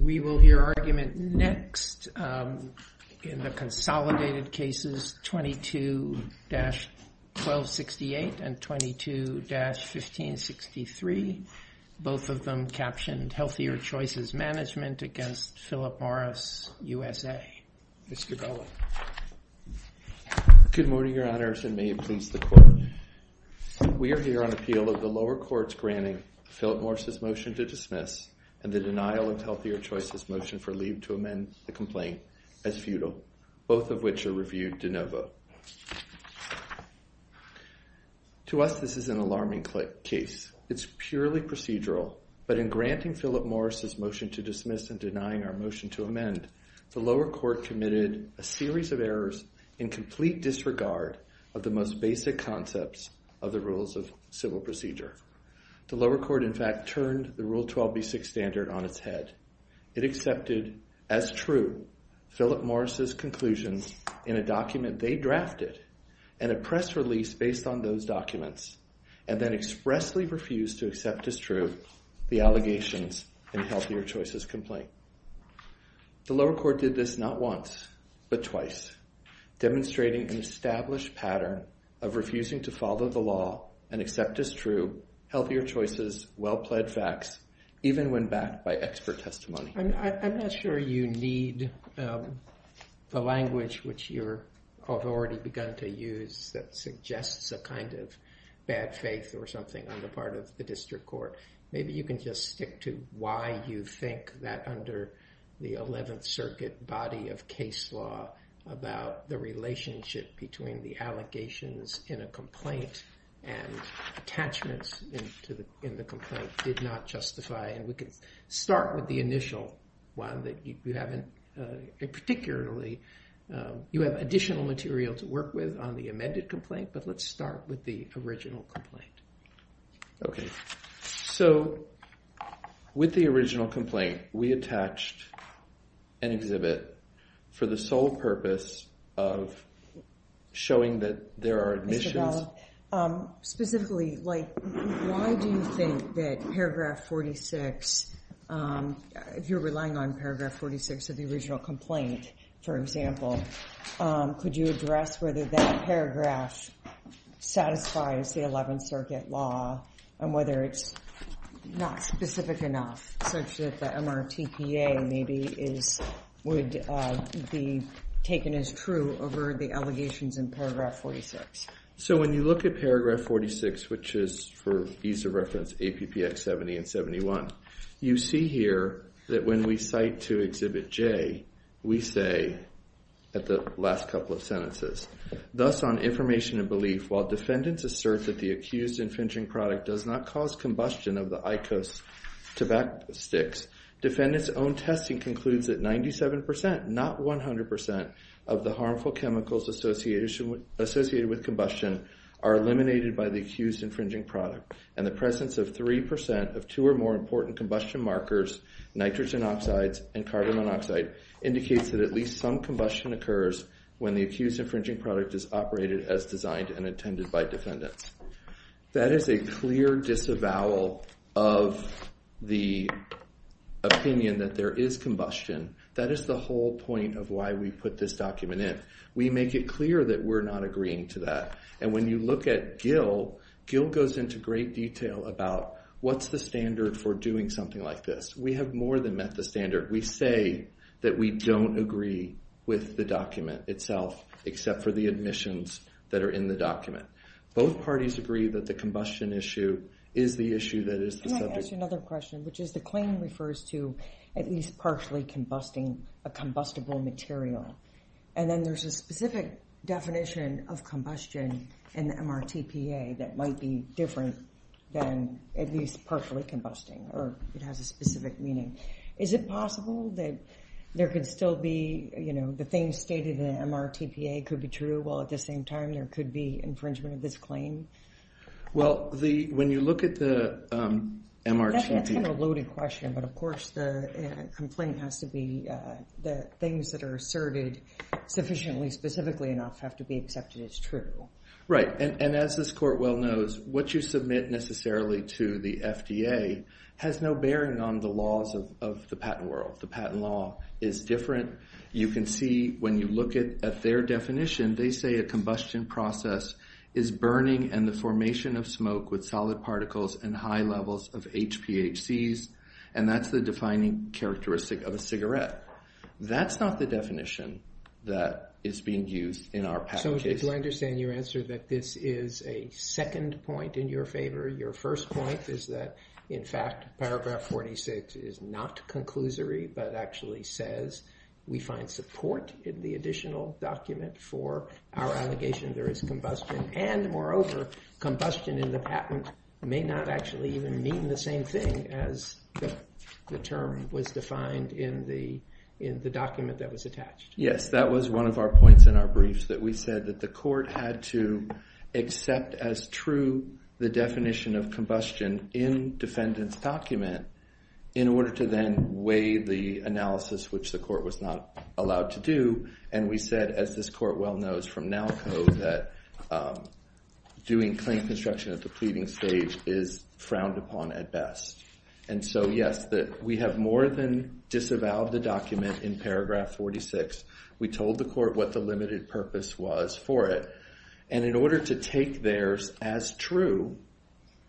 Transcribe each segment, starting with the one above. We will hear argument next in the consolidated cases 22-1268 and 22-1563. Both of them captioned, Healthier Choices Management against Philip Morris USA. Mr. Bellin. Good morning, Your Honors, and may it please the Court. We are here on appeal of the lower courts granting Philip Morris' motion to dismiss and the denial of Healthier Choices' motion for leave to amend the complaint as futile, both of which are reviewed de novo. To us, this is an alarming case. It's purely procedural, but in granting Philip Morris' motion to dismiss and denying our motion to amend, the lower court committed a series of errors in complete disregard of the most basic concepts of the rules of civil procedure. The lower court, in fact, turned the Rule 12B6 standard on its head. It accepted as true Philip Morris' conclusions in a document they drafted and a press release based on those documents, and then expressly refused to accept as true the allegations in Healthier Choices' complaint. The lower court did this not once, but twice, demonstrating an established pattern of refusing to follow the law and accept as true Healthier Choices' well-pledged facts, even when backed by expert testimony. I'm not sure you need the language which you've already begun to use that suggests a kind of bad faith or something on the part of the district court. Maybe you can just stick to why you think that under the 11th Circuit body of case law about the relationship between the allegations in a complaint and attachments in the complaint did not justify, and we can start with the initial one that you haven't, particularly, you have additional material to work with on the amended complaint, but let's start with the original complaint. Okay, so with the original complaint, we attached an exhibit for the sole purpose of showing that there are admissions. Ms. Cavallo, specifically, like, why do you think that paragraph 46, if you're relying on paragraph 46 of the original complaint, for example, could you address whether that law and whether it's not specific enough such that the MRTPA maybe would be taken as true over the allegations in paragraph 46? So when you look at paragraph 46, which is, for ease of reference, APPX 70 and 71, you see here that when we cite to exhibit J, we say, at the last couple of sentences, thus on information and belief, while defendants assert that the accused infringing product does not cause combustion of the IQOS tobacco sticks, defendants' own testing concludes that 97%, not 100%, of the harmful chemicals associated with combustion are eliminated by the accused infringing product, and the presence of 3% of two or more important combustion markers, nitrogen oxides and carbon monoxide, indicates that at least some combustion occurs when the accused infringing product is operated as designed and intended by defendants. That is a clear disavowal of the opinion that there is combustion. That is the whole point of why we put this document in. We make it clear that we're not agreeing to that. And when you look at Gill, Gill goes into great detail about what's the standard for doing something like this. We have more than met the standard. We say that we don't agree with the document itself, except for the admissions that are in the document. Both parties agree that the combustion issue is the issue that is the subject. Can I ask you another question, which is the claim refers to at least partially combusting a combustible material, and then there's a specific definition of combustion in the MRTPA that might be different than at least partially combusting, or it has a specific meaning. Is it possible that there could still be, you know, the things stated in the MRTPA could be true, while at the same time there could be infringement of this claim? Well, when you look at the MRTPA- That's kind of a loaded question. But of course, the complaint has to be the things that are asserted sufficiently specifically enough have to be accepted as true. Right. And as this court well knows, what you submit necessarily to the FDA has no bearing on the of the patent world. The patent law is different. You can see when you look at their definition, they say a combustion process is burning and the formation of smoke with solid particles and high levels of HPHCs, and that's the defining characteristic of a cigarette. That's not the definition that is being used in our patent case. So do I understand your answer that this is a second point in your favor? Your first point is that, in fact, paragraph 46 is not conclusory, but actually says we find support in the additional document for our allegation there is combustion. And moreover, combustion in the patent may not actually even mean the same thing as the term was defined in the document that was attached. Yes, that was one of our points in our briefs that we said that the court had to accept as true the definition of combustion in defendant's document in order to then weigh the analysis, which the court was not allowed to do. And we said, as this court well knows from NALCO, that doing claim construction at the pleading stage is frowned upon at best. And so, yes, that we have more than disavowed the document in paragraph 46. We told the court what the limited purpose was for it. And in order to take theirs as true,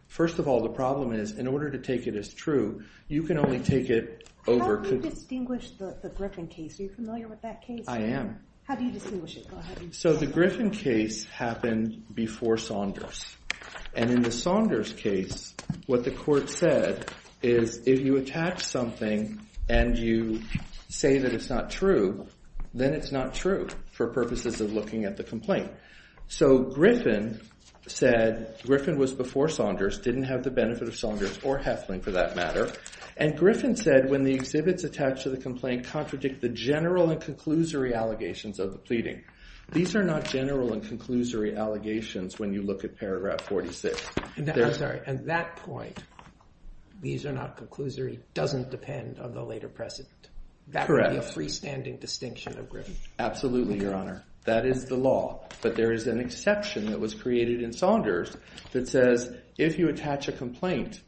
first of all, the problem is in order to take it as true, you can only take it over. How do you distinguish the Griffin case? Are you familiar with that case? I am. How do you distinguish it? Go ahead. So the Griffin case happened before Saunders. And in the Saunders case, what the court said is if you attach something and you say that it's not true, then it's not true for purposes of looking at the complaint. So Griffin said Griffin was before Saunders, didn't have the benefit of Saunders or Heflin for that matter. And Griffin said when the exhibits attached to the complaint contradict the general and conclusory allegations of the pleading. These are not general and conclusory allegations when you look at paragraph 46. And I'm sorry, at that point, these are not conclusory, doesn't depend on the later precedent. Correct. That would be a freestanding distinction of Griffin. Absolutely, Your Honor. That is the law. But there is an exception that was created in Saunders that says if you attach a complaint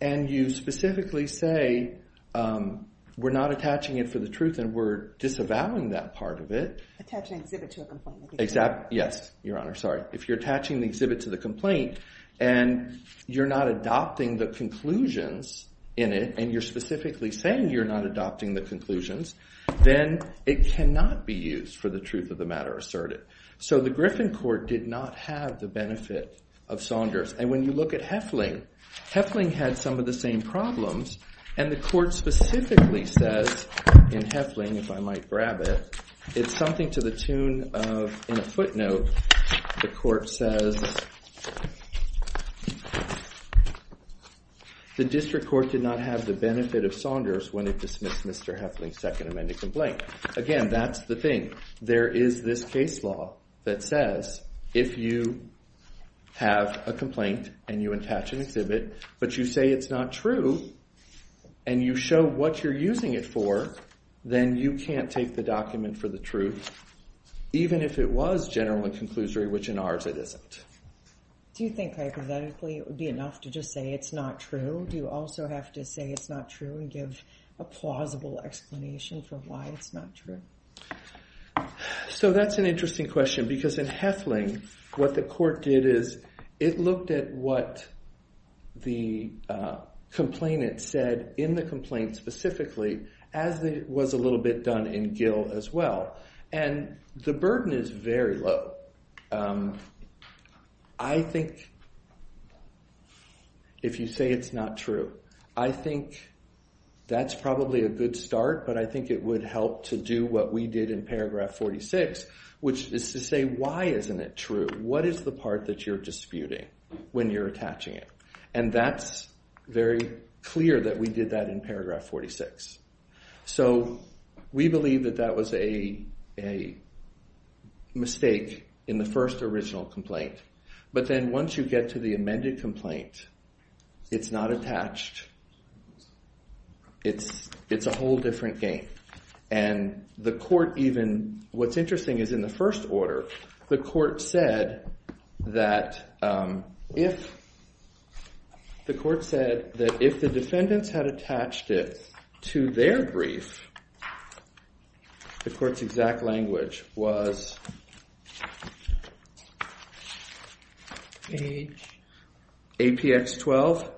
and you specifically say we're not attaching it for the truth and we're disavowing that part of it. Attach an exhibit to a complaint. Exactly. Yes, Your Honor. Sorry. If you're attaching the exhibit to the complaint and you're not adopting the conclusions in it and you're specifically saying you're not adopting the conclusions, then it cannot be used for the truth of the matter asserted. So the Griffin court did not have the benefit of Saunders. And when you look at Heflin, Heflin had some of the same problems. And the court specifically says in Heflin, if I might grab it, it's something to the tune of in a footnote, the court says the district court did not have the benefit of Saunders when it dismissed Mr. Heflin's second amended complaint. Again, that's the thing. There is this case law that says if you have a complaint and you attach an exhibit, but you say it's not true and you show what you're using it for, then you can't take the document for the truth, even if it was general and conclusory, which in ours it isn't. Do you think hypothetically it would be enough to just say it's not true? Do you also have to say it's not true and give a plausible explanation for why it's not true? So that's an interesting question, because in Heflin, what the court did is it looked at what the complainant said in the complaint specifically, as it was a little bit done in Gill as well. And the burden is very low. But I think if you say it's not true, I think that's probably a good start. But I think it would help to do what we did in paragraph 46, which is to say, why isn't it true? What is the part that you're disputing when you're attaching it? And that's very clear that we did that in paragraph 46. So we believe that that was a mistake in the first original complaint. But then once you get to the amended complaint, it's not attached. It's a whole different game. And what's interesting is in the first order, the court said that if the defendants had issued their brief, the court's exact language was APX 12,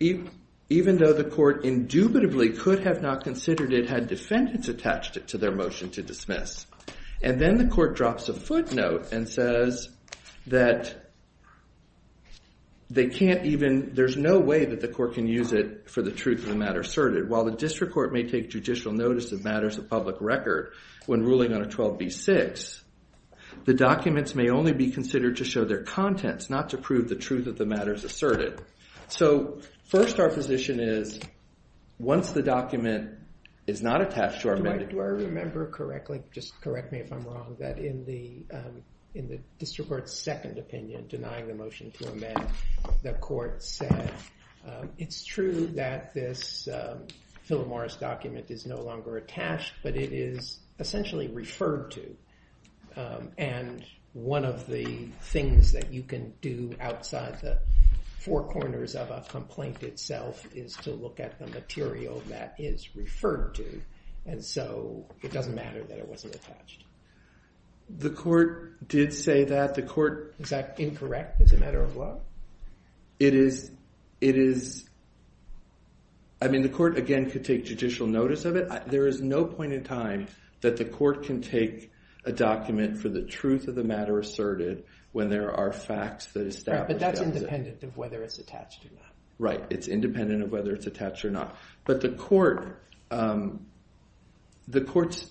even though the court indubitably could have not considered it had defendants attached it to their motion to dismiss. And then the court drops a footnote and says that there's no way that the court can use it for the truth of the matter asserted. While the district court may take judicial notice of matters of public record when ruling on a 12b-6, the documents may only be considered to show their contents, not to prove the truth of the matters asserted. So first our position is, once the document is not attached to our amendment. Do I remember correctly? Just correct me if I'm wrong, that in the district court's second opinion denying the Philip Morris document is no longer attached, but it is essentially referred to. And one of the things that you can do outside the four corners of a complaint itself is to look at the material that is referred to. And so it doesn't matter that it wasn't attached. The court did say that. The court. Is that incorrect? As a matter of what? It is. It is. I mean, the court, again, could take judicial notice of it. There is no point in time that the court can take a document for the truth of the matter asserted when there are facts that establish. But that's independent of whether it's attached to that. Right. It's independent of whether it's attached or not. But the court. The court's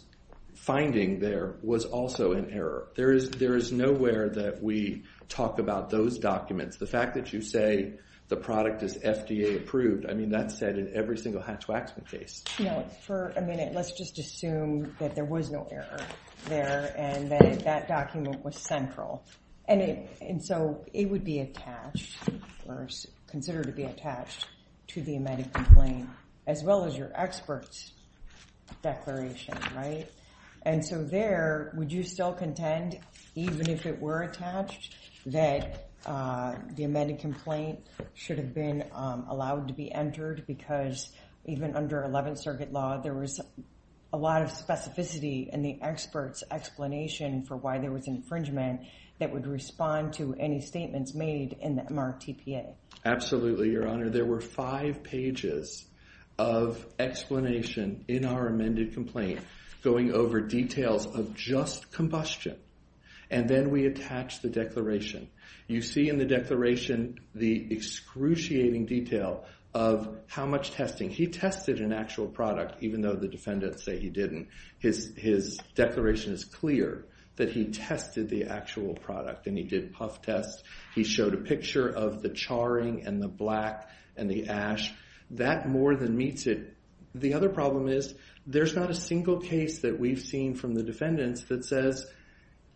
finding there was also an error. There is nowhere that we talk about those documents. The fact that you say the product is FDA approved. I mean, that's said in every single Hatch-Waxman case. You know, for a minute, let's just assume that there was no error there and that document was central. And so it would be attached or considered to be attached to the emetic complaint, as well as your expert's declaration. Right. And so there, would you still contend, even if it were attached, that the emetic complaint should have been allowed to be entered? Because even under 11th Circuit law, there was a lot of specificity in the expert's explanation for why there was infringement that would respond to any statements made in the MRTPA. Absolutely, Your Honor. There were five pages of explanation in our amended complaint going over details of just combustion. And then we attach the declaration. You see in the declaration the excruciating detail of how much testing. He tested an actual product, even though the defendants say he didn't. His declaration is clear that he tested the actual product. And he did puff tests. He showed a picture of the charring and the black and the ash. That more than meets it. The other problem is there's not a single case that we've seen from the defendants that says,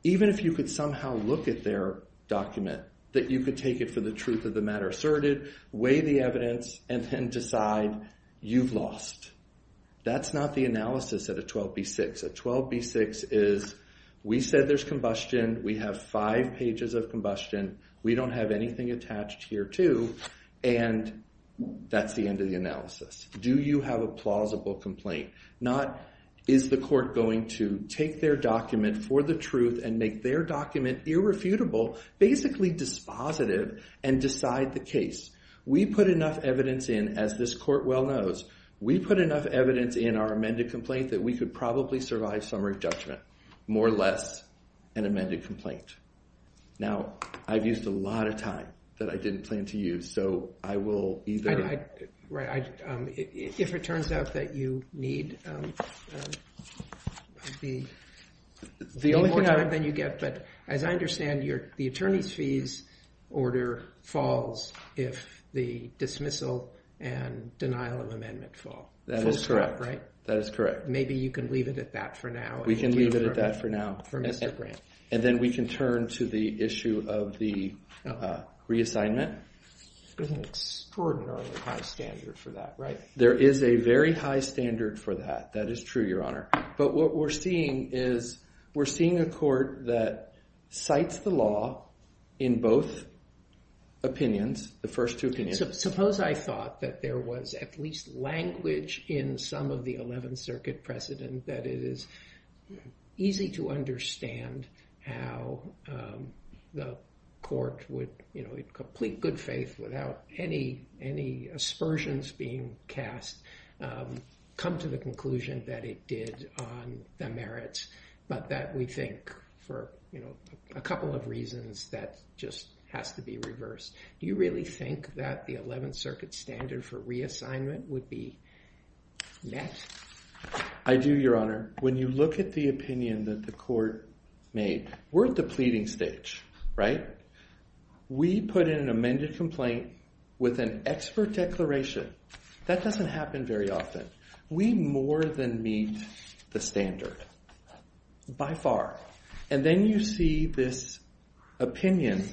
even if you could somehow look at their document, that you could take it for the truth of the matter asserted, weigh the evidence, and then decide you've lost. That's not the analysis at a 12B6. A 12B6 is we said there's combustion. We have five pages of combustion. We don't have anything attached here, too. And that's the end of the analysis. Do you have a plausible complaint? Not is the court going to take their document for the truth and make their document irrefutable, basically dispositive, and decide the case. We put enough evidence in, as this court well knows, we put enough evidence in our amended judgment, more or less, an amended complaint. Now, I've used a lot of time that I didn't plan to use. So I will either... Right. If it turns out that you need more time than you get. But as I understand, the attorney's fees order falls if the dismissal and denial of amendment fall. That is correct. Right? That is correct. Maybe you can leave it at that for now. We can leave it at that for now. And then we can turn to the issue of the reassignment. There's an extraordinarily high standard for that, right? There is a very high standard for that. That is true, Your Honor. But what we're seeing is we're seeing a court that cites the law in both opinions, the first two opinions. Suppose I thought that there was at least language in some of the 11th Circuit precedent that it is easy to understand how the court would, in complete good faith, without any aspersions being cast, come to the conclusion that it did on the merits. But that we think, for a couple of reasons, that just has to be reversed. Do you really think that the 11th Circuit standard for reassignment would be met? I do, Your Honor. When you look at the opinion that the court made, we're at the pleading stage, right? We put in an amended complaint with an expert declaration. That doesn't happen very often. We more than meet the standard, by far. And then you see this opinion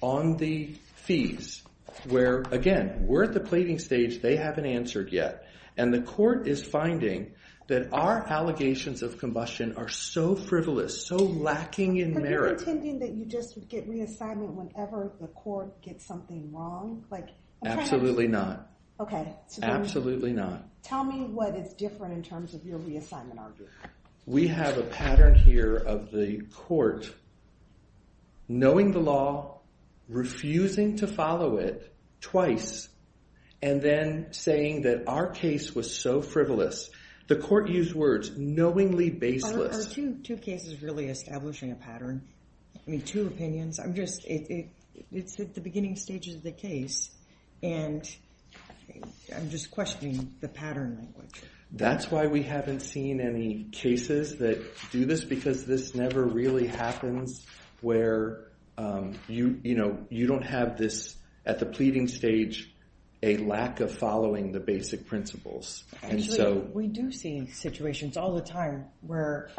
on the fees where, again, we're at the pleading stage. They haven't answered yet. And the court is finding that our allegations of combustion are so frivolous, so lacking in merit. But you're intending that you just get reassignment whenever the court gets something wrong? Absolutely not. Absolutely not. Tell me what is different in terms of your reassignment argument. We have a pattern here of the court knowing the law, refusing to follow it twice, and then saying that our case was so frivolous. The court used words, knowingly baseless. Are two cases really establishing a pattern? I mean, two opinions? I'm just, it's at the beginning stages of the case, and I'm just questioning the pattern. That's why we haven't seen any cases that do this, because this never really happens where you don't have this, at the pleading stage, a lack of following the basic principles. Actually, we do see situations all the time where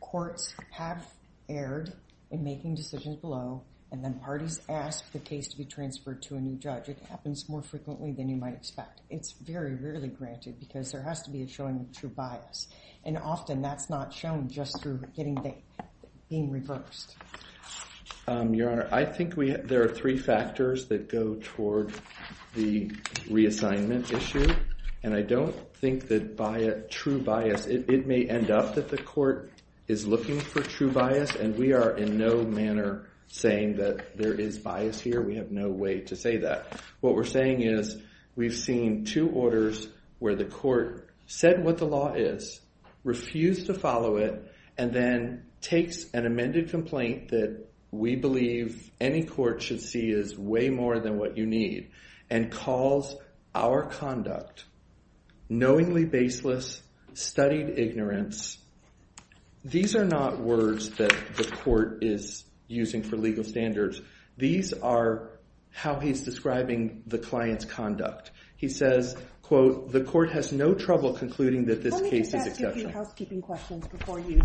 courts have erred in making decisions below, and then parties ask the case to be transferred to a new judge. It happens more frequently than you might expect. It's very rarely granted, because there has to be a showing of true bias. Often, that's not shown just through being reversed. Your Honor, I think there are three factors that go toward the reassignment issue. I don't think that true bias, it may end up that the court is looking for true bias, and we are in no manner saying that there is bias here. We have no way to say that. What we're saying is, we've seen two orders where the court said what the law is, refused to follow it, and then takes an amended complaint that we believe any court should see is way more than what you need, and calls our conduct knowingly baseless, studied ignorance. These are not words that the court is using for legal standards. These are how he's describing the client's conduct. He says, quote, the court has no trouble concluding that this case is exceptional. Let me just ask a few housekeeping questions before you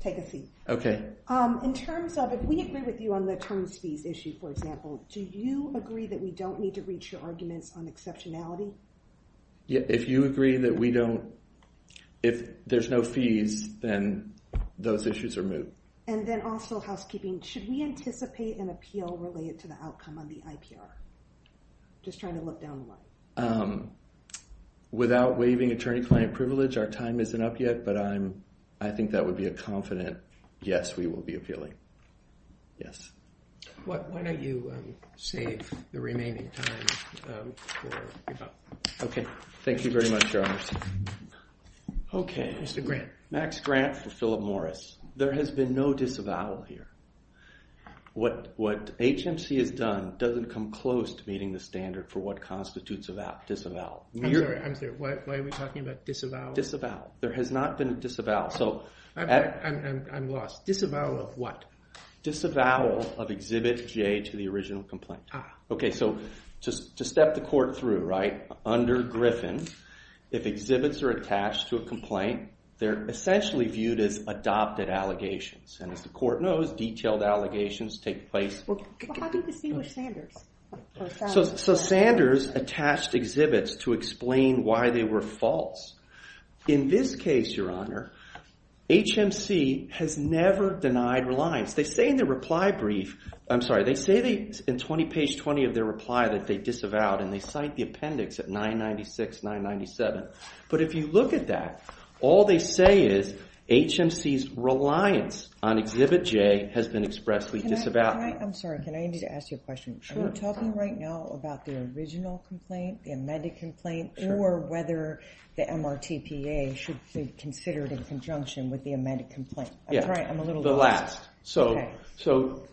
take a seat. Okay. In terms of, if we agree with you on the terms fees issue, for example, do you agree that we don't need to reach your arguments on exceptionality? If you agree that we don't, if there's no fees, then those issues are moved. And then also housekeeping, should we anticipate an appeal related to the outcome on the IPR? Just trying to look down the line. Without waiving attorney-client privilege, our time isn't up yet, but I think that would be a confident yes, we will be appealing. Yes. Why don't you save the remaining time for your thought? Okay. Thank you very much, Your Honor. Okay. Mr. Grant. Max Grant for Philip Morris. There has been no disavowal here. What HMC has done doesn't come close to meeting the standard for what constitutes a disavowal. I'm sorry, I'm sorry. Why are we talking about disavowal? Disavowal. There has not been a disavowal. I'm lost. Disavowal of what? Disavowal of Exhibit J to the original complaint. Okay. So to step the court through, right? Under Griffin, if exhibits are attached to a complaint, they're essentially viewed as adopted allegations. And as the court knows, detailed allegations take place. How do you distinguish Sanders? So Sanders attached exhibits to explain why they were false. In this case, Your Honor, HMC has never denied reliance. They say in their reply brief, I'm sorry, they say in page 20 of their reply that they disavowed, and they cite the appendix at 996, 997. But if you look at that, all they say is HMC's reliance on Exhibit J has been expressly disavowed. I'm sorry, can I need to ask you a question? Sure. Are you talking right now about the original complaint, the amended complaint, or whether the MRTPA should be considered in conjunction with the amended complaint? Yeah. That's right. I'm a little lost. The last. So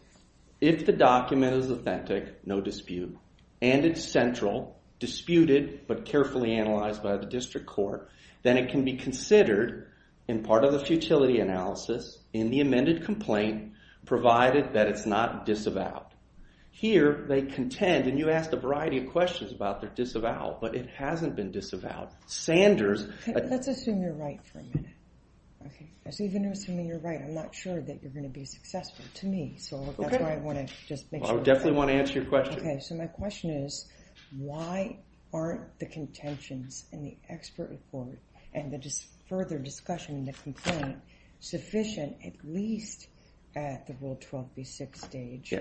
if the document is authentic, no dispute, and it's central, disputed, but carefully analyzed by the district court, then it can be considered in part of the futility analysis in the amended complaint, provided that it's not disavowed. Here, they contend, and you asked a variety of questions about their disavowal, but it hasn't been disavowed. Sanders. Let's assume you're right for a minute. OK. Even assuming you're right, I'm not sure that you're going to be successful, to me. So that's why I want to just make sure. I definitely want to answer your question. So my question is, why aren't the contentions in the expert report and the further discussion in the complaint sufficient, at least at the Rule 12b-6 stage,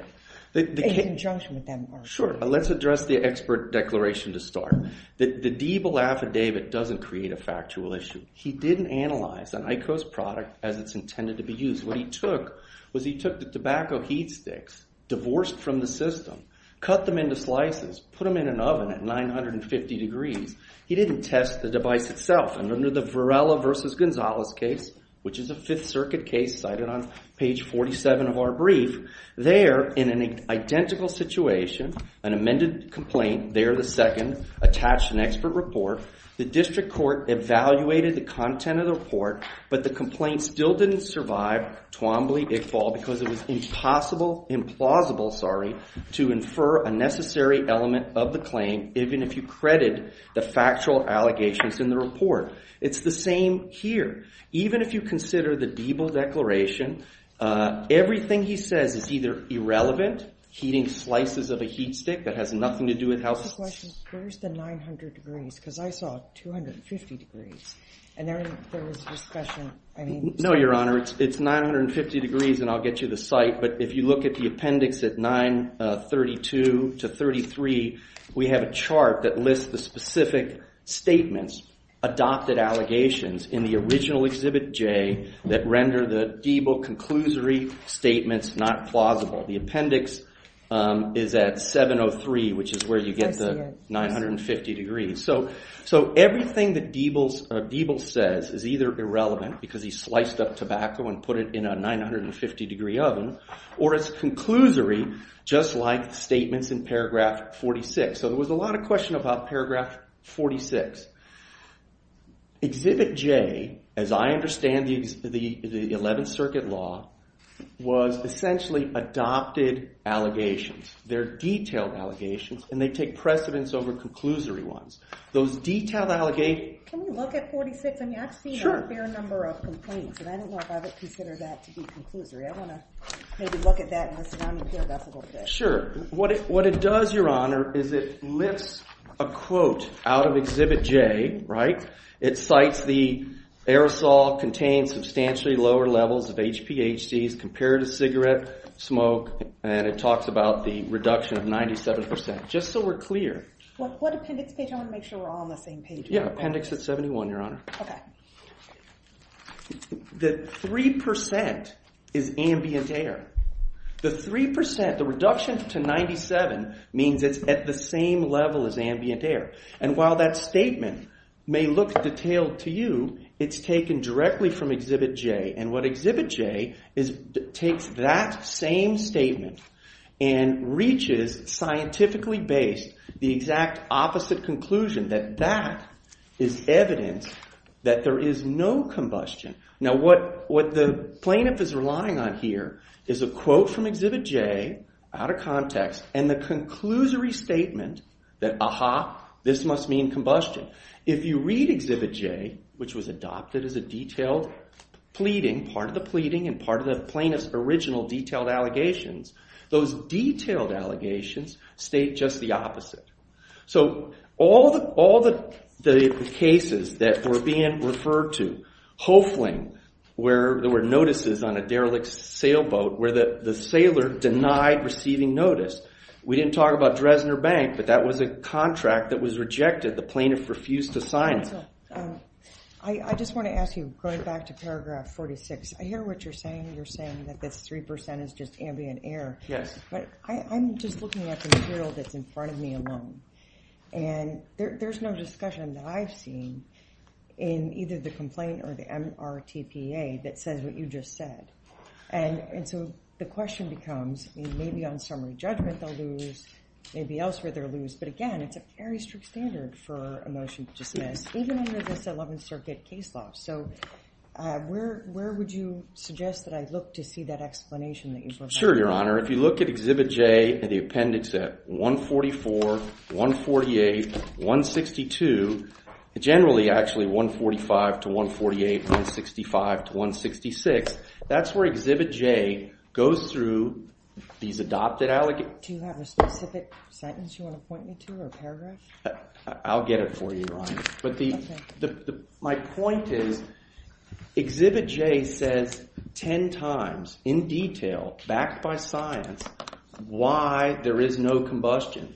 in conjunction with that MRTPA? Sure. Let's address the expert declaration to start. The Diebel affidavit doesn't create a factual issue. He didn't analyze an ICO's product as it's intended to be used. What he took was he took the tobacco heat sticks, divorced from the system, cut them into slices, put them in an oven at 950 degrees. He didn't test the device itself. And under the Varela versus Gonzalez case, which is a Fifth Circuit case cited on page 47 of our brief, there, in an identical situation, an amended complaint, there the second, attached an expert report. The district court evaluated the content of the report, but the complaint still didn't survive Twombly, Iqbal, because it was impossible, implausible, sorry, to infer a necessary element of the claim, even if you credit the factual allegations in the report. It's the same here. Even if you consider the Diebel declaration, everything he says is either irrelevant, heating slices of a heat stick that has nothing to do with how... I have a question. Where's the 900 degrees? Because I saw 250 degrees. And there was discussion, I mean... No, Your Honor. It's 950 degrees, and I'll get you the site. But if you look at the appendix at 932 to 33, we have a chart that lists the specific statements, adopted allegations, in the original Exhibit J that render the Diebel conclusory statements not plausible. The appendix is at 703, which is where you get the 950 degrees. So everything that Diebel says is either irrelevant, because he sliced up tobacco and put it in a 950 degree oven, or it's conclusory, just like statements in paragraph 46. So there was a lot of question about paragraph 46. Exhibit J, as I understand the 11th Circuit law, was essentially adopted allegations. They're detailed allegations, and they take precedence over conclusory ones. Those detailed allegations... Can we look at 46? I mean, I've seen a fair number of complaints, and I don't know if I would consider that to be conclusory. I want to maybe look at that in the surrounding field just a little bit. Sure. What it does, Your Honor, is it lifts a quote out of Exhibit J, right? It cites the aerosol contained substantially lower levels of HPHCs compared to cigarette smoke, and it talks about the reduction of 97%, just so we're clear. What appendix page? I want to make sure we're all on the same page. Yeah, appendix at 71, Your Honor. Okay. The 3% is ambient air. The 3%, the reduction to 97, means it's at the same level as ambient air. And while that statement may look detailed to you, it's taken directly from Exhibit J. And what Exhibit J takes that same statement and reaches scientifically based the exact opposite conclusion that that is evidence that there is no combustion. Now, what the plaintiff is relying on here is a quote from Exhibit J out of context and the conclusory statement that, aha, this must mean combustion. If you read Exhibit J, which was adopted as a detailed pleading, part of the pleading and part of the plaintiff's original detailed allegations, those detailed allegations state just the opposite. So all the cases that were being referred to, hopefully, where there were notices on a derelict sailboat where the sailor denied receiving notice. We didn't talk about Dresdner Bank, but that was a contract that was rejected. The plaintiff refused to sign it. I just want to ask you, going back to paragraph 46, I hear what you're saying. You're saying that this 3% is just ambient air. Yes. But I'm just looking at the material that's in front of me alone. And there's no discussion that I've seen in either the complaint or the MRTPA that says what you just said. And so the question becomes, maybe on summary judgment, they'll lose. Maybe elsewhere, they'll lose. But again, it's a very strict standard for a motion to dismiss, even under this 11th Circuit case law. So where would you suggest that I look to see that explanation that you provide? Sure, Your Honor. If you look at Exhibit J, and the appendix at 144, 148, 162, generally, actually, 145 to 148, 165 to 166, that's where Exhibit J goes through these adopted allegations. Do you have a specific sentence you want to point me to, or a paragraph? I'll get it for you, Your Honor. But my point is, Exhibit J says 10 times, in detail, backed by science, why there is no combustion.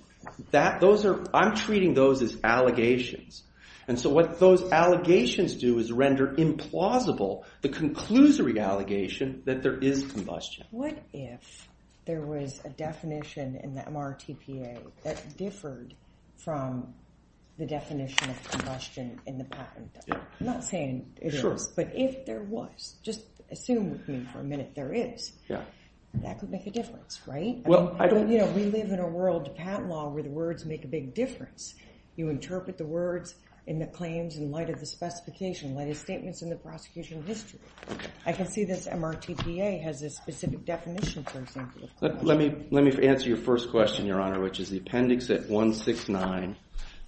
I'm treating those as allegations. And so what those allegations do is render implausible the conclusory allegation that there is combustion. What if there was a definition in the MRTPA that differed from the definition of combustion in the patent? But if there was, just assume with me for a minute, there is. That could make a difference, right? We live in a world, patent law, where the words make a big difference. You interpret the words in the claims in light of the specification, like the statements in the prosecution history. I can see this MRTPA has a specific definition, for example, of combustion. Let me answer your first question, Your Honor, which is the appendix at 169,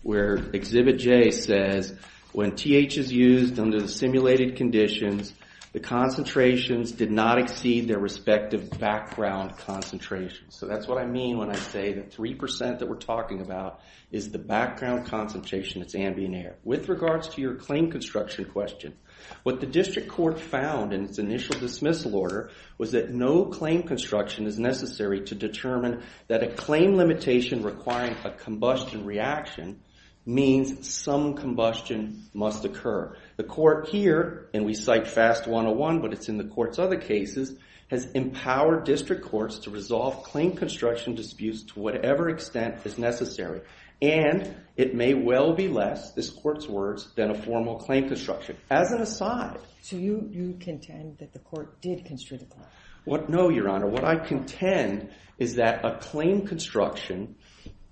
where Exhibit J says, when TH is used under the simulated conditions, the concentrations did not exceed their respective background concentrations. So that's what I mean when I say that 3% that we're talking about is the background concentration that's ambient air. With regards to your claim construction question, what the district court found in its initial dismissal order was that no claim construction is necessary to determine that a claim limitation requiring a combustion reaction means some combustion must occur. The court here, and we cite FAST 101, but it's in the court's other cases, has empowered district courts to resolve claim construction disputes to whatever extent is necessary. And it may well be less, this court's words, than a formal claim construction, as an aside. So you contend that the court did construe the claim? No, Your Honor. What I contend is that a claim construction,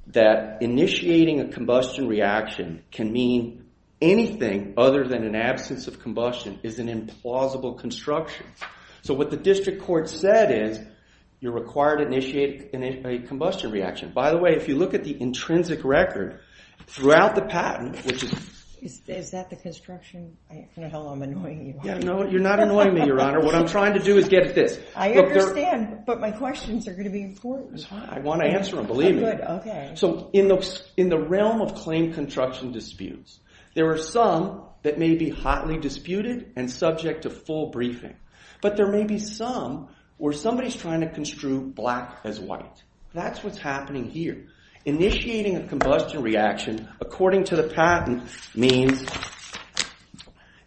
that initiating a combustion reaction can mean anything other than an absence of combustion is an implausible construction. So what the district court said is, you're required to initiate a combustion reaction. By the way, if you look at the intrinsic record throughout the patent, which is... Is that the construction? I don't know how long I'm annoying you. No, you're not annoying me, Your Honor. What I'm trying to do is get at this. I understand, but my questions are going to be important. I want to answer them, believe me. Good, okay. So in the realm of claim construction disputes, there are some that may be hotly disputed and subject to full briefing. But there may be some where somebody's trying to construe black as white. That's what's happening here. Initiating a combustion reaction, according to the patent, means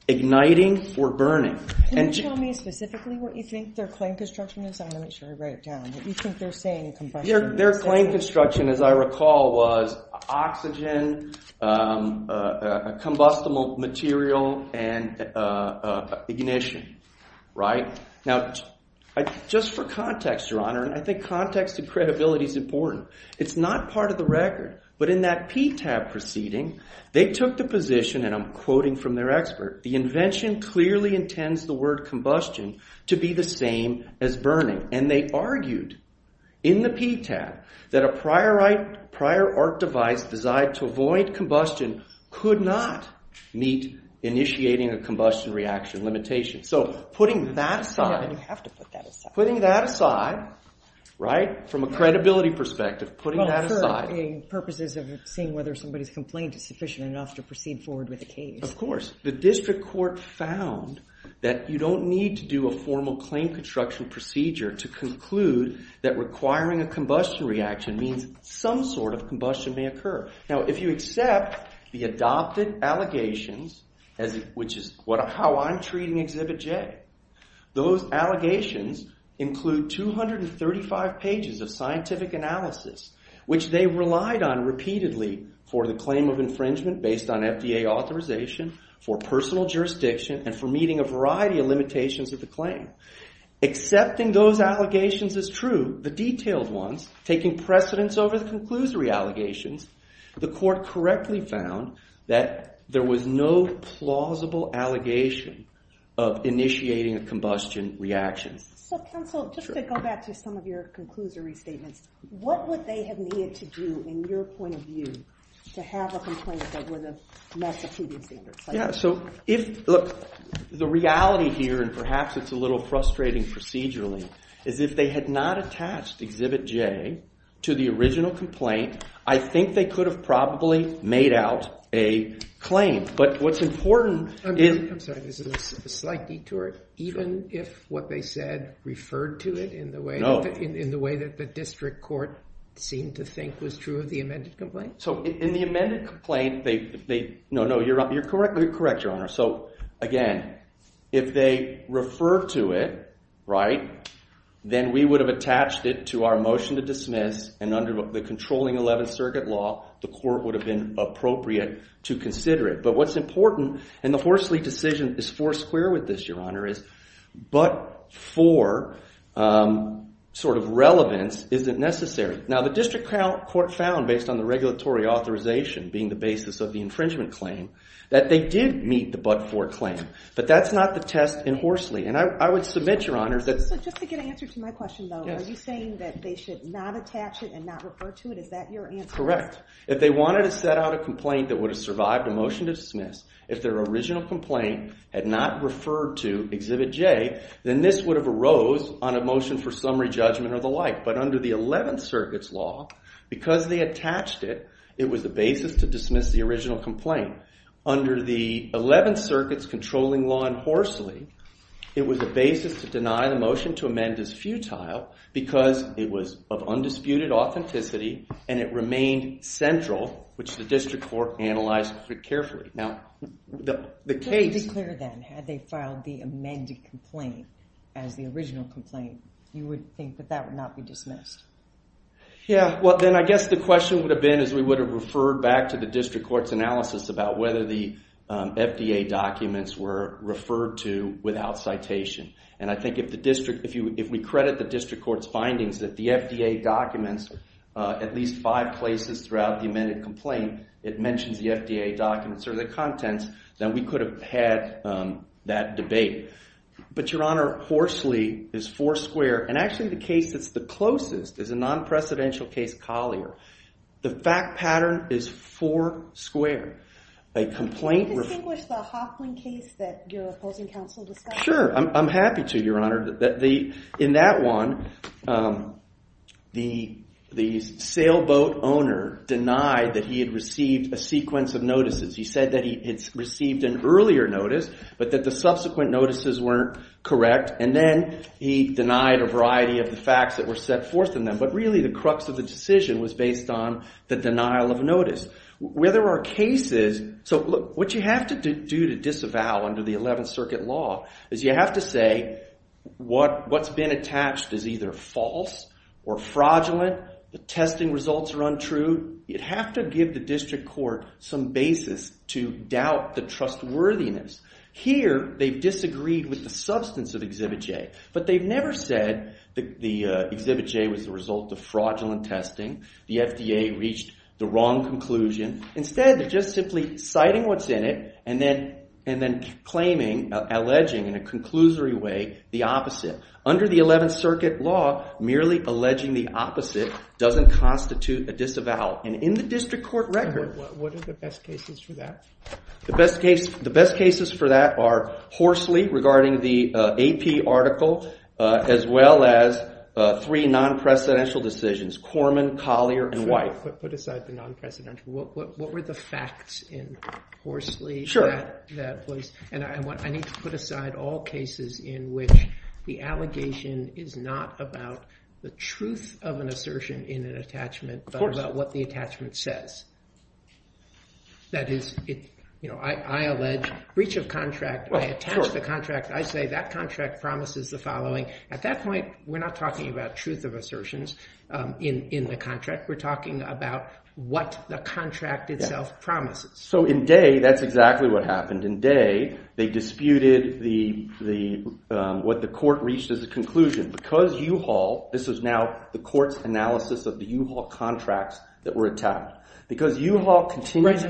igniting or burning. Can you tell me specifically what you think their claim construction is? I want to make sure I write it down. What do you think they're saying in combustion? Their claim construction, as I recall, was oxygen, combustible material, and ignition, right? Now, just for context, Your Honor, I think context and credibility is important. It's not part of the record. But in that PTAB proceeding, they took the position, and I'm quoting from their expert, the invention clearly intends the word combustion to be the same as burning. And they argued in the PTAB that a prior art device designed to avoid combustion could not meet initiating a combustion reaction limitation. So putting that aside... You have to put that aside. Putting that aside, right? From a credibility perspective, putting that aside. For purposes of seeing whether somebody's complaint is sufficient enough to proceed forward with the case. Of course. The district court found that you don't need to do a formal claim construction procedure to conclude that requiring a combustion reaction means some sort of combustion may occur. Now, if you accept the adopted allegations, which is how I'm treating Exhibit J, those allegations include 235 pages of scientific analysis, which they relied on repeatedly for the claim of infringement based on FDA authorization, for personal jurisdiction, and for meeting a variety of limitations of the claim. Accepting those allegations is true. The detailed ones, taking precedence over the conclusory allegations, the court correctly found that there was no plausible allegation of initiating a combustion reaction. So, counsel, just to go back to some of your conclusory statements, what would they have needed to do in your point of view to have a complaint that were the most exceeding standards? Yeah, so if... Look, the reality here and perhaps it's a little frustrating procedurally, is if they had not attached Exhibit J to the original complaint, I think they could have probably made out a claim. But what's important is... I'm sorry, there's a slight detour. Even if what they said referred to it in the way that the district court seemed to think was true of the amended complaint? So in the amended complaint, they... No, no, you're correct, Your Honor. So again, if they referred to it, right, then we would have attached it to our motion to dismiss and under the controlling 11th Circuit law, the court would have been appropriate to consider it. But what's important, and the Horsley decision is four square with this, Your Honor, is but for sort of relevance isn't necessary. Now, the district court found, based on the regulatory authorization being the basis of the infringement claim, that they did meet the but for claim, but that's not the test in Horsley. And I would submit, Your Honor, that... So just to get an answer to my question, though, are you saying that they should not attach it and not refer to it? Is that your answer? Correct. If they wanted to set out a complaint that would have survived a motion to dismiss if their original complaint had not referred to Exhibit J, then this would have arose on a motion for summary judgment or the like. But under the 11th Circuit's law, because they attached it, it was the basis to dismiss the original complaint. Under the 11th Circuit's controlling law in Horsley, it was a basis to deny the motion to amend as futile because it was of undisputed authenticity and it remained central, which the district court analyzed very carefully. Now, the case... Could it be clear, then, had they filed the amended complaint as the original complaint, you would think that that would not be dismissed? Yeah. Well, then I guess the question would have been as we would have referred back to the district court's analysis whether the FDA documents were referred to without citation. And I think if we credit the district court's findings that the FDA documents at least five places throughout the amended complaint, it mentions the FDA documents or the contents, then we could have had that debate. But, Your Honor, Horsley is four square. And actually, the case that's the closest is a non-precedential case, Collier. The fact pattern is four square. A complaint... Can you distinguish the Hoffman case that your opposing counsel discussed? Sure, I'm happy to, Your Honor. In that one, the sailboat owner denied that he had received a sequence of notices. He said that he had received an earlier notice, but that the subsequent notices weren't correct. And then he denied a variety of the facts that were set forth in them. But really, the crux of the decision was based on the denial of notice. Where there are cases... So, look, what you have to do to disavow under the 11th Circuit Law is you have to say what's been attached is either false or fraudulent. The testing results are untrue. You'd have to give the district court some basis to doubt the trustworthiness. Here, they've disagreed with the substance of Exhibit J. But they've never said that the Exhibit J was the result of fraudulent testing. The FDA reached the wrong conclusion. Instead, they're just simply citing what's in it and then claiming, alleging in a conclusory way, the opposite. Under the 11th Circuit Law, merely alleging the opposite doesn't constitute a disavow. And in the district court record... What are the best cases for that? The best cases for that are Horsley regarding the AP article, as well as three non-precedential decisions, Corman, Collier, and White. But put aside the non-precedential. What were the facts in Horsley? And I need to put aside all cases in which the allegation is not about the truth of an assertion in an attachment, but about what the attachment says. That is, I allege breach of contract. I attach the contract. I say that contract promises the following. At that point, we're not talking about truth of assertions. In the contract, we're talking about what the contract itself promises. So in Day, that's exactly what happened. In Day, they disputed what the court reached as a conclusion. Because U-Haul, this is now the court's analysis of the U-Haul contracts that were attached. Because U-Haul continues...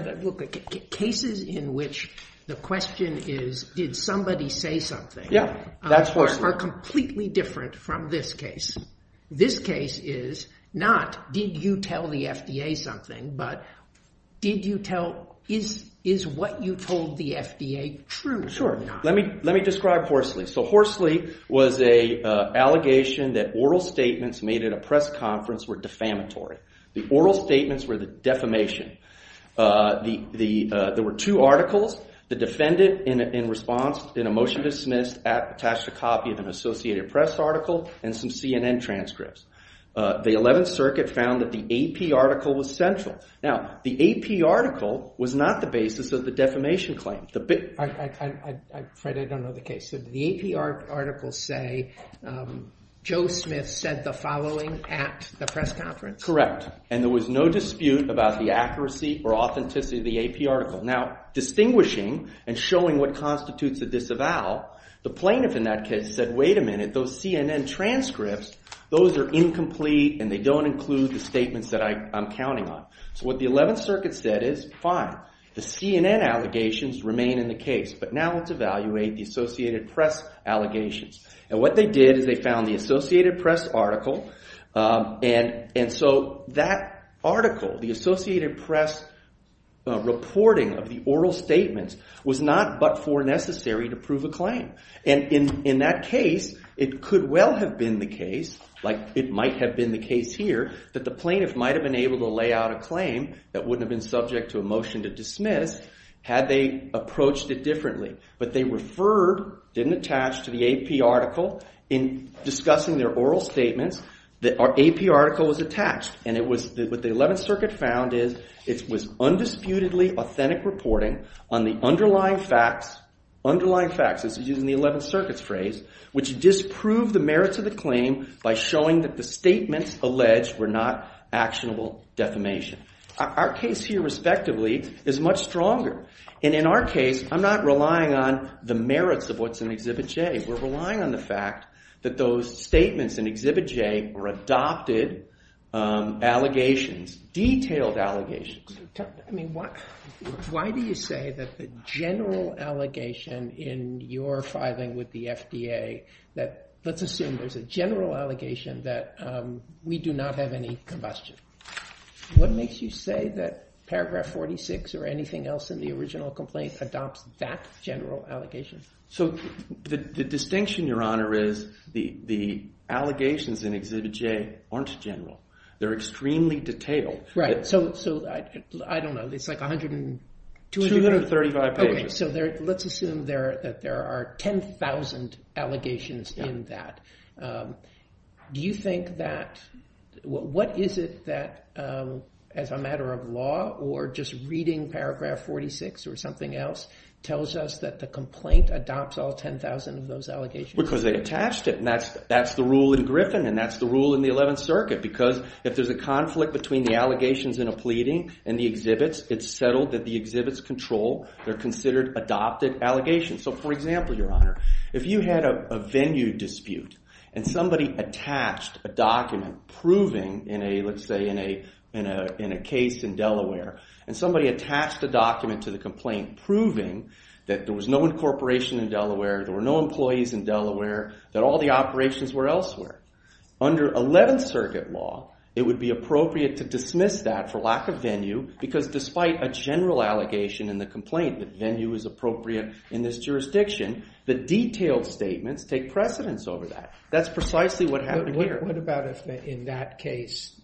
Cases in which the question is, did somebody say something? Yeah, that's Horsley. Are completely different from this case. This case is not, did you tell the FDA something? But did you tell... Is what you told the FDA true or not? Let me describe Horsley. So Horsley was an allegation that oral statements made at a press conference were defamatory. The oral statements were the defamation. There were two articles. The defendant, in response, in a motion to dismiss, attached a copy of an Associated Press article and some CNN transcripts. The 11th Circuit found that the AP article was central. Now, the AP article was not the basis of the defamation claim. Fred, I don't know the case. Did the AP article say, Joe Smith said the following at the press conference? Correct. And there was no dispute about the accuracy or authenticity of the AP article. Now, distinguishing and showing what constitutes a disavow, the plaintiff in that case said, wait a minute, those CNN transcripts, those are incomplete and they don't include the statements that I'm counting on. So what the 11th Circuit said is, fine, the CNN allegations remain in the case, but now let's evaluate the Associated Press allegations. And what they did is they found the Associated Press article. And so that article, the Associated Press reporting of the oral statements was not but for necessary to prove a claim. And in that case, it could well have been the case, like it might have been the case here, that the plaintiff might have been able to lay out a claim that wouldn't have been subject to a motion to dismiss had they approached it differently. But they referred, didn't attach to the AP article in discussing their oral statements, that our AP article was attached. And what the 11th Circuit found is it was undisputedly authentic reporting on the underlying facts, underlying facts, this is using the 11th Circuit's phrase, which disproved the merits of the claim by showing that the statements alleged were not actionable defamation. Our case here, respectively, is much stronger. And in our case, I'm not relying on the merits of what's in Exhibit J. We're relying on the fact that those statements in Exhibit J were adopted allegations, detailed allegations. I mean, why do you say that the general allegation in your filing with the FDA, that let's assume there's a general allegation that we do not have any combustion. What makes you say that Paragraph 46 or anything else in the original complaint adopts that general allegation? So the distinction, Your Honor, is the allegations in Exhibit J aren't general. They're extremely detailed. Right. So I don't know. It's like a hundred and two. 235 pages. So let's assume that there are 10,000 allegations in that. Do you think that, what is it that, as a matter of law or just reading Paragraph 46 or something else, tells us that the complaint adopts all 10,000 of those allegations? Because they attached it. And that's the rule in Griffin. And that's the rule in the 11th Circuit. Because if there's a conflict between the allegations in a pleading and the exhibits, it's settled that the exhibits control. They're considered adopted allegations. So for example, Your Honor, if you had a venue dispute and somebody attached a document proving in a, let's say, in a case in Delaware, and somebody attached a document to the complaint proving that there was no incorporation in Delaware, there were no employees in Delaware, that all the operations were elsewhere. Under 11th Circuit law, it would be appropriate to dismiss that for lack of venue because despite a general allegation in the complaint, the venue is appropriate in this jurisdiction. The detailed statements take precedence over that. That's precisely what happened here. What about if in that case,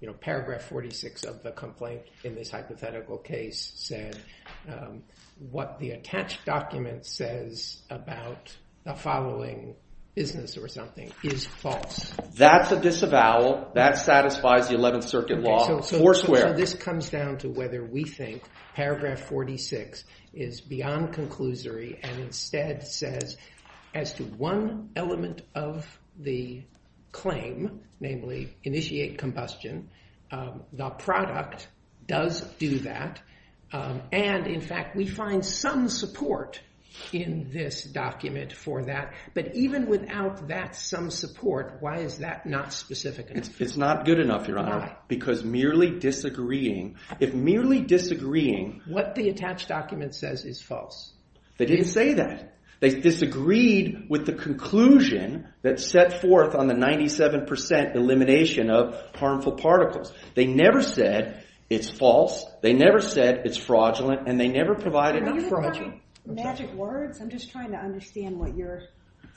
you know, paragraph 46 of the complaint in this hypothetical case said what the attached document says about the following business or something is false? That's a disavowal. That satisfies the 11th Circuit law. Four square. So this comes down to whether we think paragraph 46 is beyond conclusory and instead says as to one element of the claim, namely initiate combustion, the product does do that. And in fact, we find some support in this document for that. But even without that some support, why is that not specific? It's not good enough, Your Honor, because merely disagreeing if merely disagreeing what the attached document says is false. They didn't say that. They disagreed with the conclusion that set forth on the 97 percent elimination of harmful particles. They never said it's false. They never said it's fraudulent. And they never provided enough fraudulent words. I'm just trying to understand what you're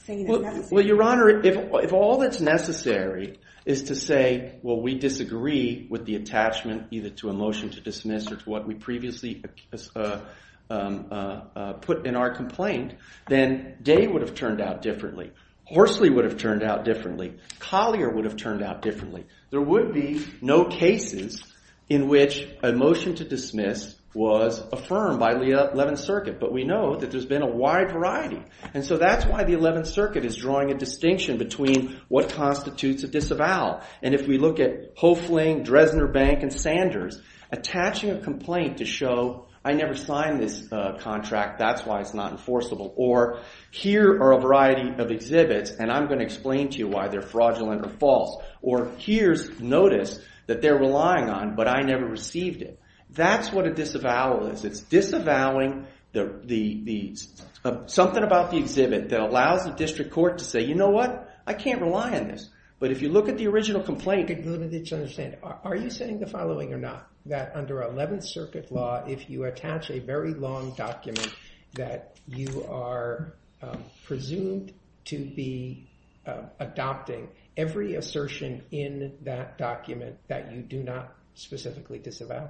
saying. Well, Your Honor, if all that's necessary is to say, well, we disagree with the attachment either to a motion to dismiss or to what we previously put in our complaint, then Day would have turned out differently. Horsley would have turned out differently. Collier would have turned out differently. There would be no cases in which a motion to dismiss was affirmed by the Eleventh Circuit. But we know that there's been a wide variety. And so that's why the Eleventh Circuit is drawing a distinction between what constitutes a disavowal. And if we look at Hoefling, Dresdner Bank, and Sanders attaching a complaint to show, I never signed this contract, that's why it's not enforceable. Or here are a variety of exhibits, and I'm going to explain to you why they're fraudulent or false. Or here's notice that they're relying on, but I never received it. That's what a disavowal is. It's disavowing something about the exhibit that allows the district court to say, you know what? I can't rely on this. But if you look at the original complaint, are you saying the following or not? That under Eleventh Circuit law, if you attach a very long document that you are presumed to be adopting every assertion in that document that you do not specifically disavow.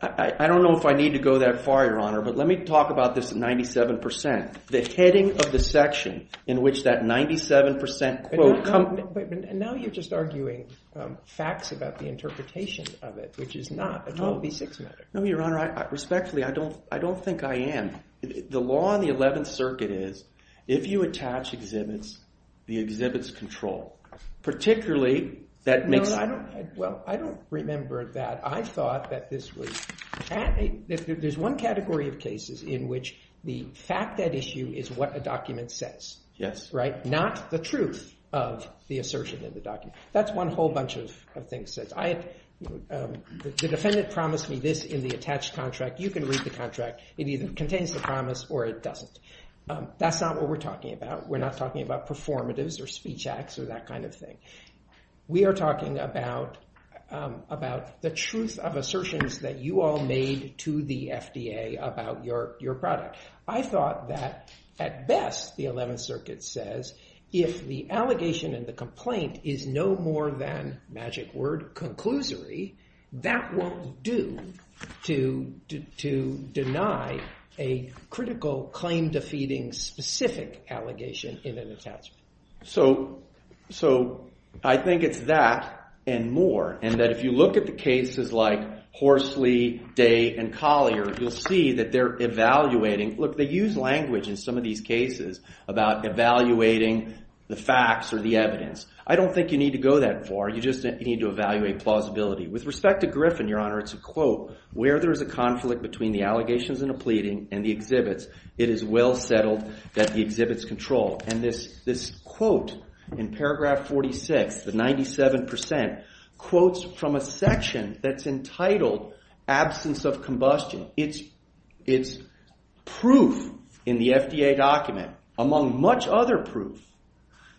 I don't know if I need to go that far, Your Honor, but let me talk about this 97 percent. The heading of the section in which that 97 percent quote. And now you're just arguing facts about the interpretation of it, which is not a 12B6 matter. No, Your Honor, respectfully, I don't I don't think I am. The law in the Eleventh Circuit is if you attach exhibits, the exhibits control, particularly that makes. Well, I don't remember that. I thought that this was there's one category of cases in which the fact that issue is what a document says. Yes. Right. Not the truth of the assertion in the document. That's one whole bunch of things that I the defendant promised me this in the attached contract. You can read the contract. It either contains the promise or it doesn't. That's not what we're talking about. We're not talking about performatives or speech acts or that kind of thing. We are talking about about the truth of assertions that you all made to the FDA about your your product. I thought that at best, the Eleventh Circuit says if the allegation and the complaint is no more than magic word conclusory, that will do to deny a critical claim defeating specific allegation in an attachment. So I think it's that and more. And that if you look at the cases like Horsley, Day and Collier, you'll see that they're evaluating. Look, they use language in some of these cases about evaluating the facts or the evidence. I don't think you need to go that far. You just need to evaluate plausibility. With respect to Griffin, Your Honor, it's a quote where there is a conflict between the allegations and a pleading and the exhibits. It is well settled that the exhibits control. And this this quote in paragraph 46, the 97 percent quotes from a section that's entitled absence of combustion. It's it's proof in the FDA document, among much other proof,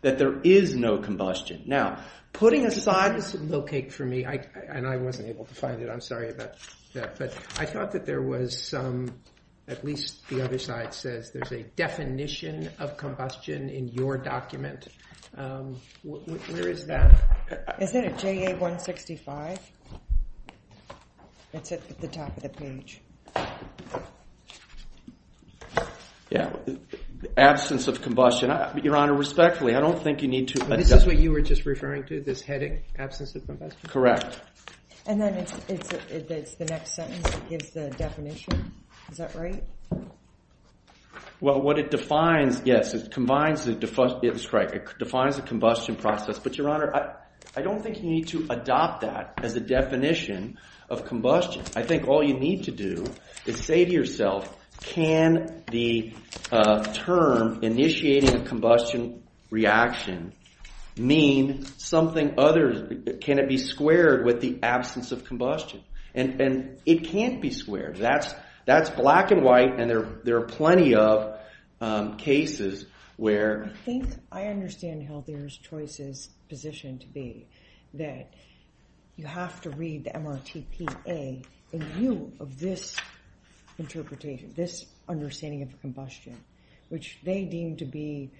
that there is no combustion. Now, putting aside this low cake for me, and I wasn't able to find it. I'm sorry about that. But I thought that there was some, at least the other side says there's a definition of combustion in your document. Where is that? Is that a JA-165? It's at the top of the page. Yeah, absence of combustion. Your Honor, respectfully, I don't think you need to. This is what you were just referring to, this headache, absence of combustion. Correct. And then it's the next sentence that gives the definition. Is that right? Well, what it defines, yes, it combines the defunct. It's right. It defines the combustion process. But, Your Honor, I don't think you need to adopt that as a definition of combustion. I think all you need to do is say to yourself, can the term initiating a combustion reaction mean something other, can it be squared with the absence of combustion? And it can't be squared. That's black and white. And there are plenty of cases where... I think I understand Healthier's choice's position to be that you have to read the MRTPA in view of this interpretation, this understanding of combustion, which they deem to be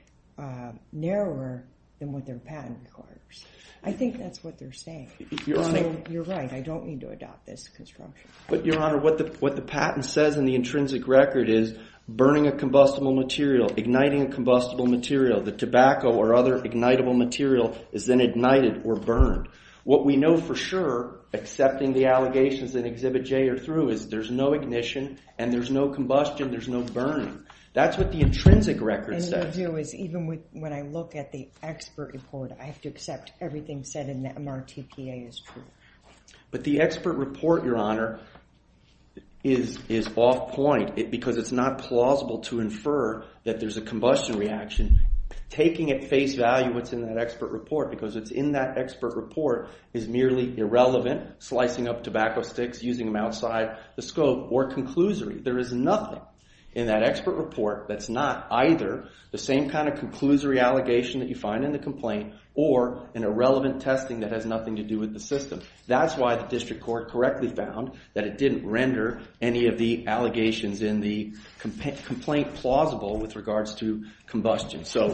narrower than what their patent requires. I think that's what they're saying. You're right. I don't need to adopt this construction. But, Your Honor, what the patent says in the intrinsic record is burning a combustible material, igniting a combustible material, the tobacco or other ignitable material is then ignited or burned. What we know for sure, accepting the allegations in Exhibit J or through, is there's no ignition and there's no combustion, there's no burning. That's what the intrinsic record says. And what you do is, even when I look at the expert report, I have to accept everything said in the MRTPA is true. But the expert report, Your Honor, is off point because it's not plausible to infer that there's a combustion reaction. Taking at face value what's in that expert report, because it's in that expert report, is merely irrelevant. Slicing up tobacco sticks, using them outside the scope or conclusory. There is nothing in that expert report that's not either the same kind of conclusory allegation that you find in the complaint or an irrelevant testing that has nothing to do with the system. That's why the district court correctly found that it didn't render any of the allegations in the complaint plausible with regards to combustion. So,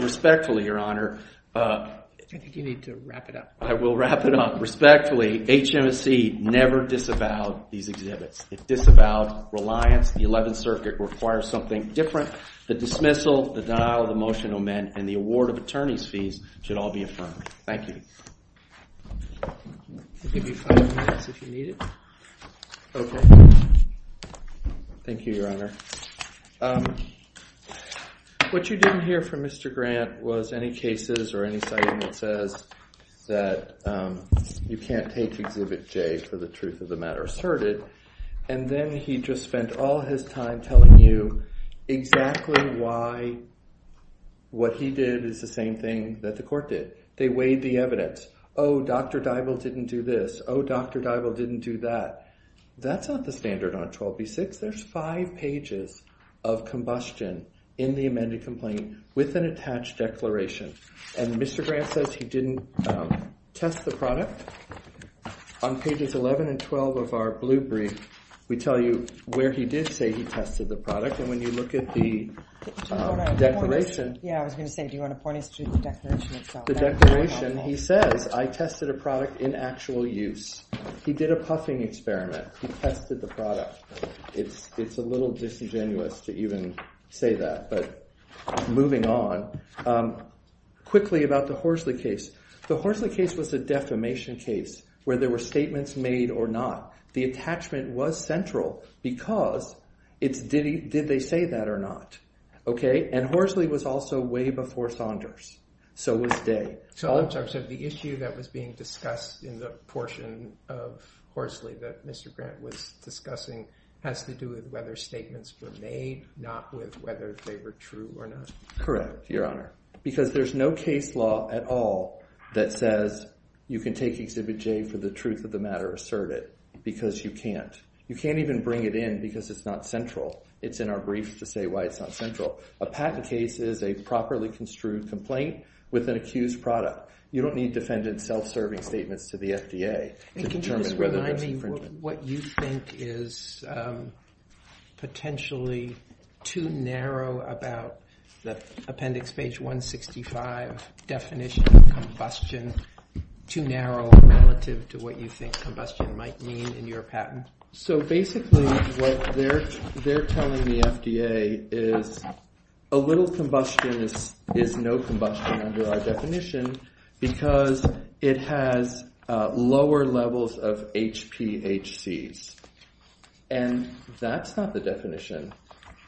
respectfully, Your Honor, I think you need to wrap it up. I will wrap it up. Respectfully, HMSE never disavowed these exhibits. It disavowed reliance. The 11th Circuit requires something different. The dismissal, the denial of the motion, amen, and the award of attorney's fees should all be affirmed. Thank you. I'll give you five minutes if you need it. Okay. Thank you, Your Honor. What you didn't hear from Mr. Grant was any cases or any citing that says that you can't take Exhibit J for the truth of the matter asserted. And then he just spent all his time telling you exactly why what he did is the same thing that the court did. They weighed the evidence. Oh, Dr. Deibel didn't do this. Oh, Dr. Deibel didn't do that. That's not the standard on 12b-6. There's five pages of combustion in the amended complaint with an attached declaration. And Mr. Grant says he didn't test the product. On pages 11 and 12 of our blue brief, we tell you where he did say he tested the product. And when you look at the declaration. Yeah, I was going to say, do you want to point us to the declaration itself? The declaration, he says, I tested a product in actual use. He did a puffing experiment. He tested the product. It's a little disingenuous to even say that, but moving on quickly about the Horsley case. The Horsley case was a defamation case where there were statements made or not. The attachment was central because it's did he did they say that or not? And Horsley was also way before Saunders. So was Day. So the issue that was being discussed in the portion of Horsley that Mr. Grant was discussing has to do with whether statements were made, not with whether they were true or not. Correct, Your Honor. Because there's no case law at all that says you can take exhibit J for the truth of the matter. Assert it because you can't. You can't even bring it in because it's not central. It's in our briefs to say why it's not central. A patent case is a properly construed complaint with an accused product. You don't need defendants self-serving statements to the FDA. What you think is potentially too narrow about the appendix page 165 definition of combustion too narrow relative to what you think combustion might mean in your patent. So basically what they're they're telling the FDA is a little combustion is no combustion under our definition because it has lower levels of HPHCs. And that's not the definition.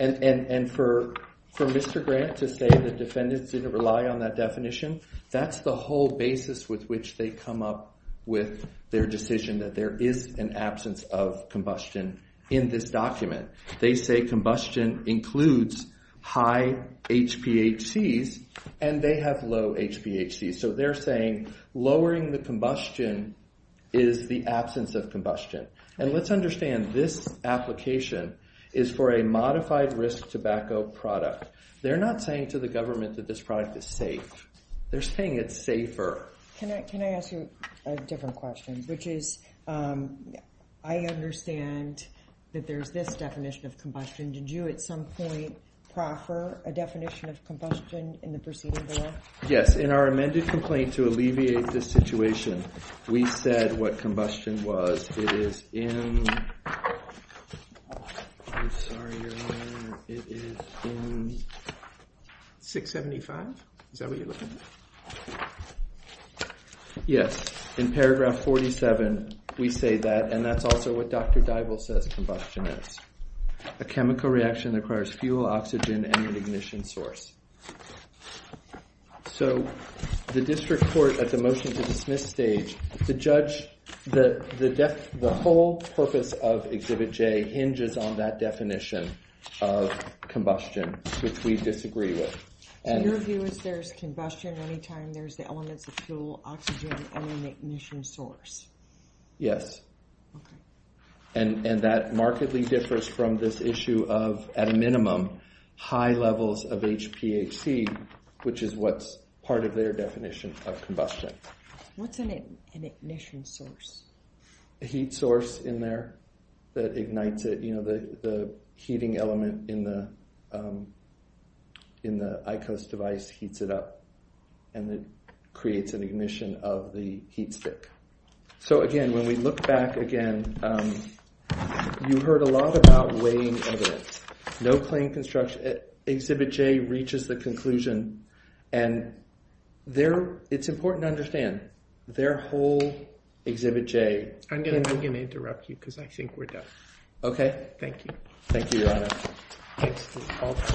And for Mr. Grant to say the defendants didn't rely on that definition. That's the whole basis with which they come up with their decision that there is an absence of combustion in this document. They say combustion includes high HPHCs and they have low HPHCs. So they're saying lowering the combustion is the absence of combustion. And let's understand this application is for a modified risk tobacco product. They're not saying to the government that this product is safe. They're saying it's safer. Can I ask you a different question which is I understand that there's this definition of combustion. Did you at some point proffer a definition of combustion in the proceeding? Yes. In our amended complaint to alleviate this situation we said what combustion was it is in, I'm sorry Your Honor, it is in 675. Is that what you're looking at? Yes. In paragraph 47 we say that and that's also what Dr. Dybul says combustion is. A chemical reaction that requires fuel, oxygen and an ignition source. So the district court at the motion to dismiss stage the judge, the whole purpose of Exhibit J hinges on that definition of combustion which we disagree with. So your view is there's combustion anytime there's the elements of fuel, oxygen and an ignition source? Yes. And that markedly differs at a minimum high levels of HPHC which is what's part of their definition of combustion. What's an ignition source? A heat source in there that ignites it, you know, the heating element in the ICOS device heats it up and it creates an ignition of the heat stick. So again, when we look back again you heard a lot about weighing evidence. No claim construction, Exhibit J reaches the conclusion and it's important to understand their whole Exhibit J I'm going to interrupt you because I think we're done. Thank you. Thank you, Your Honor.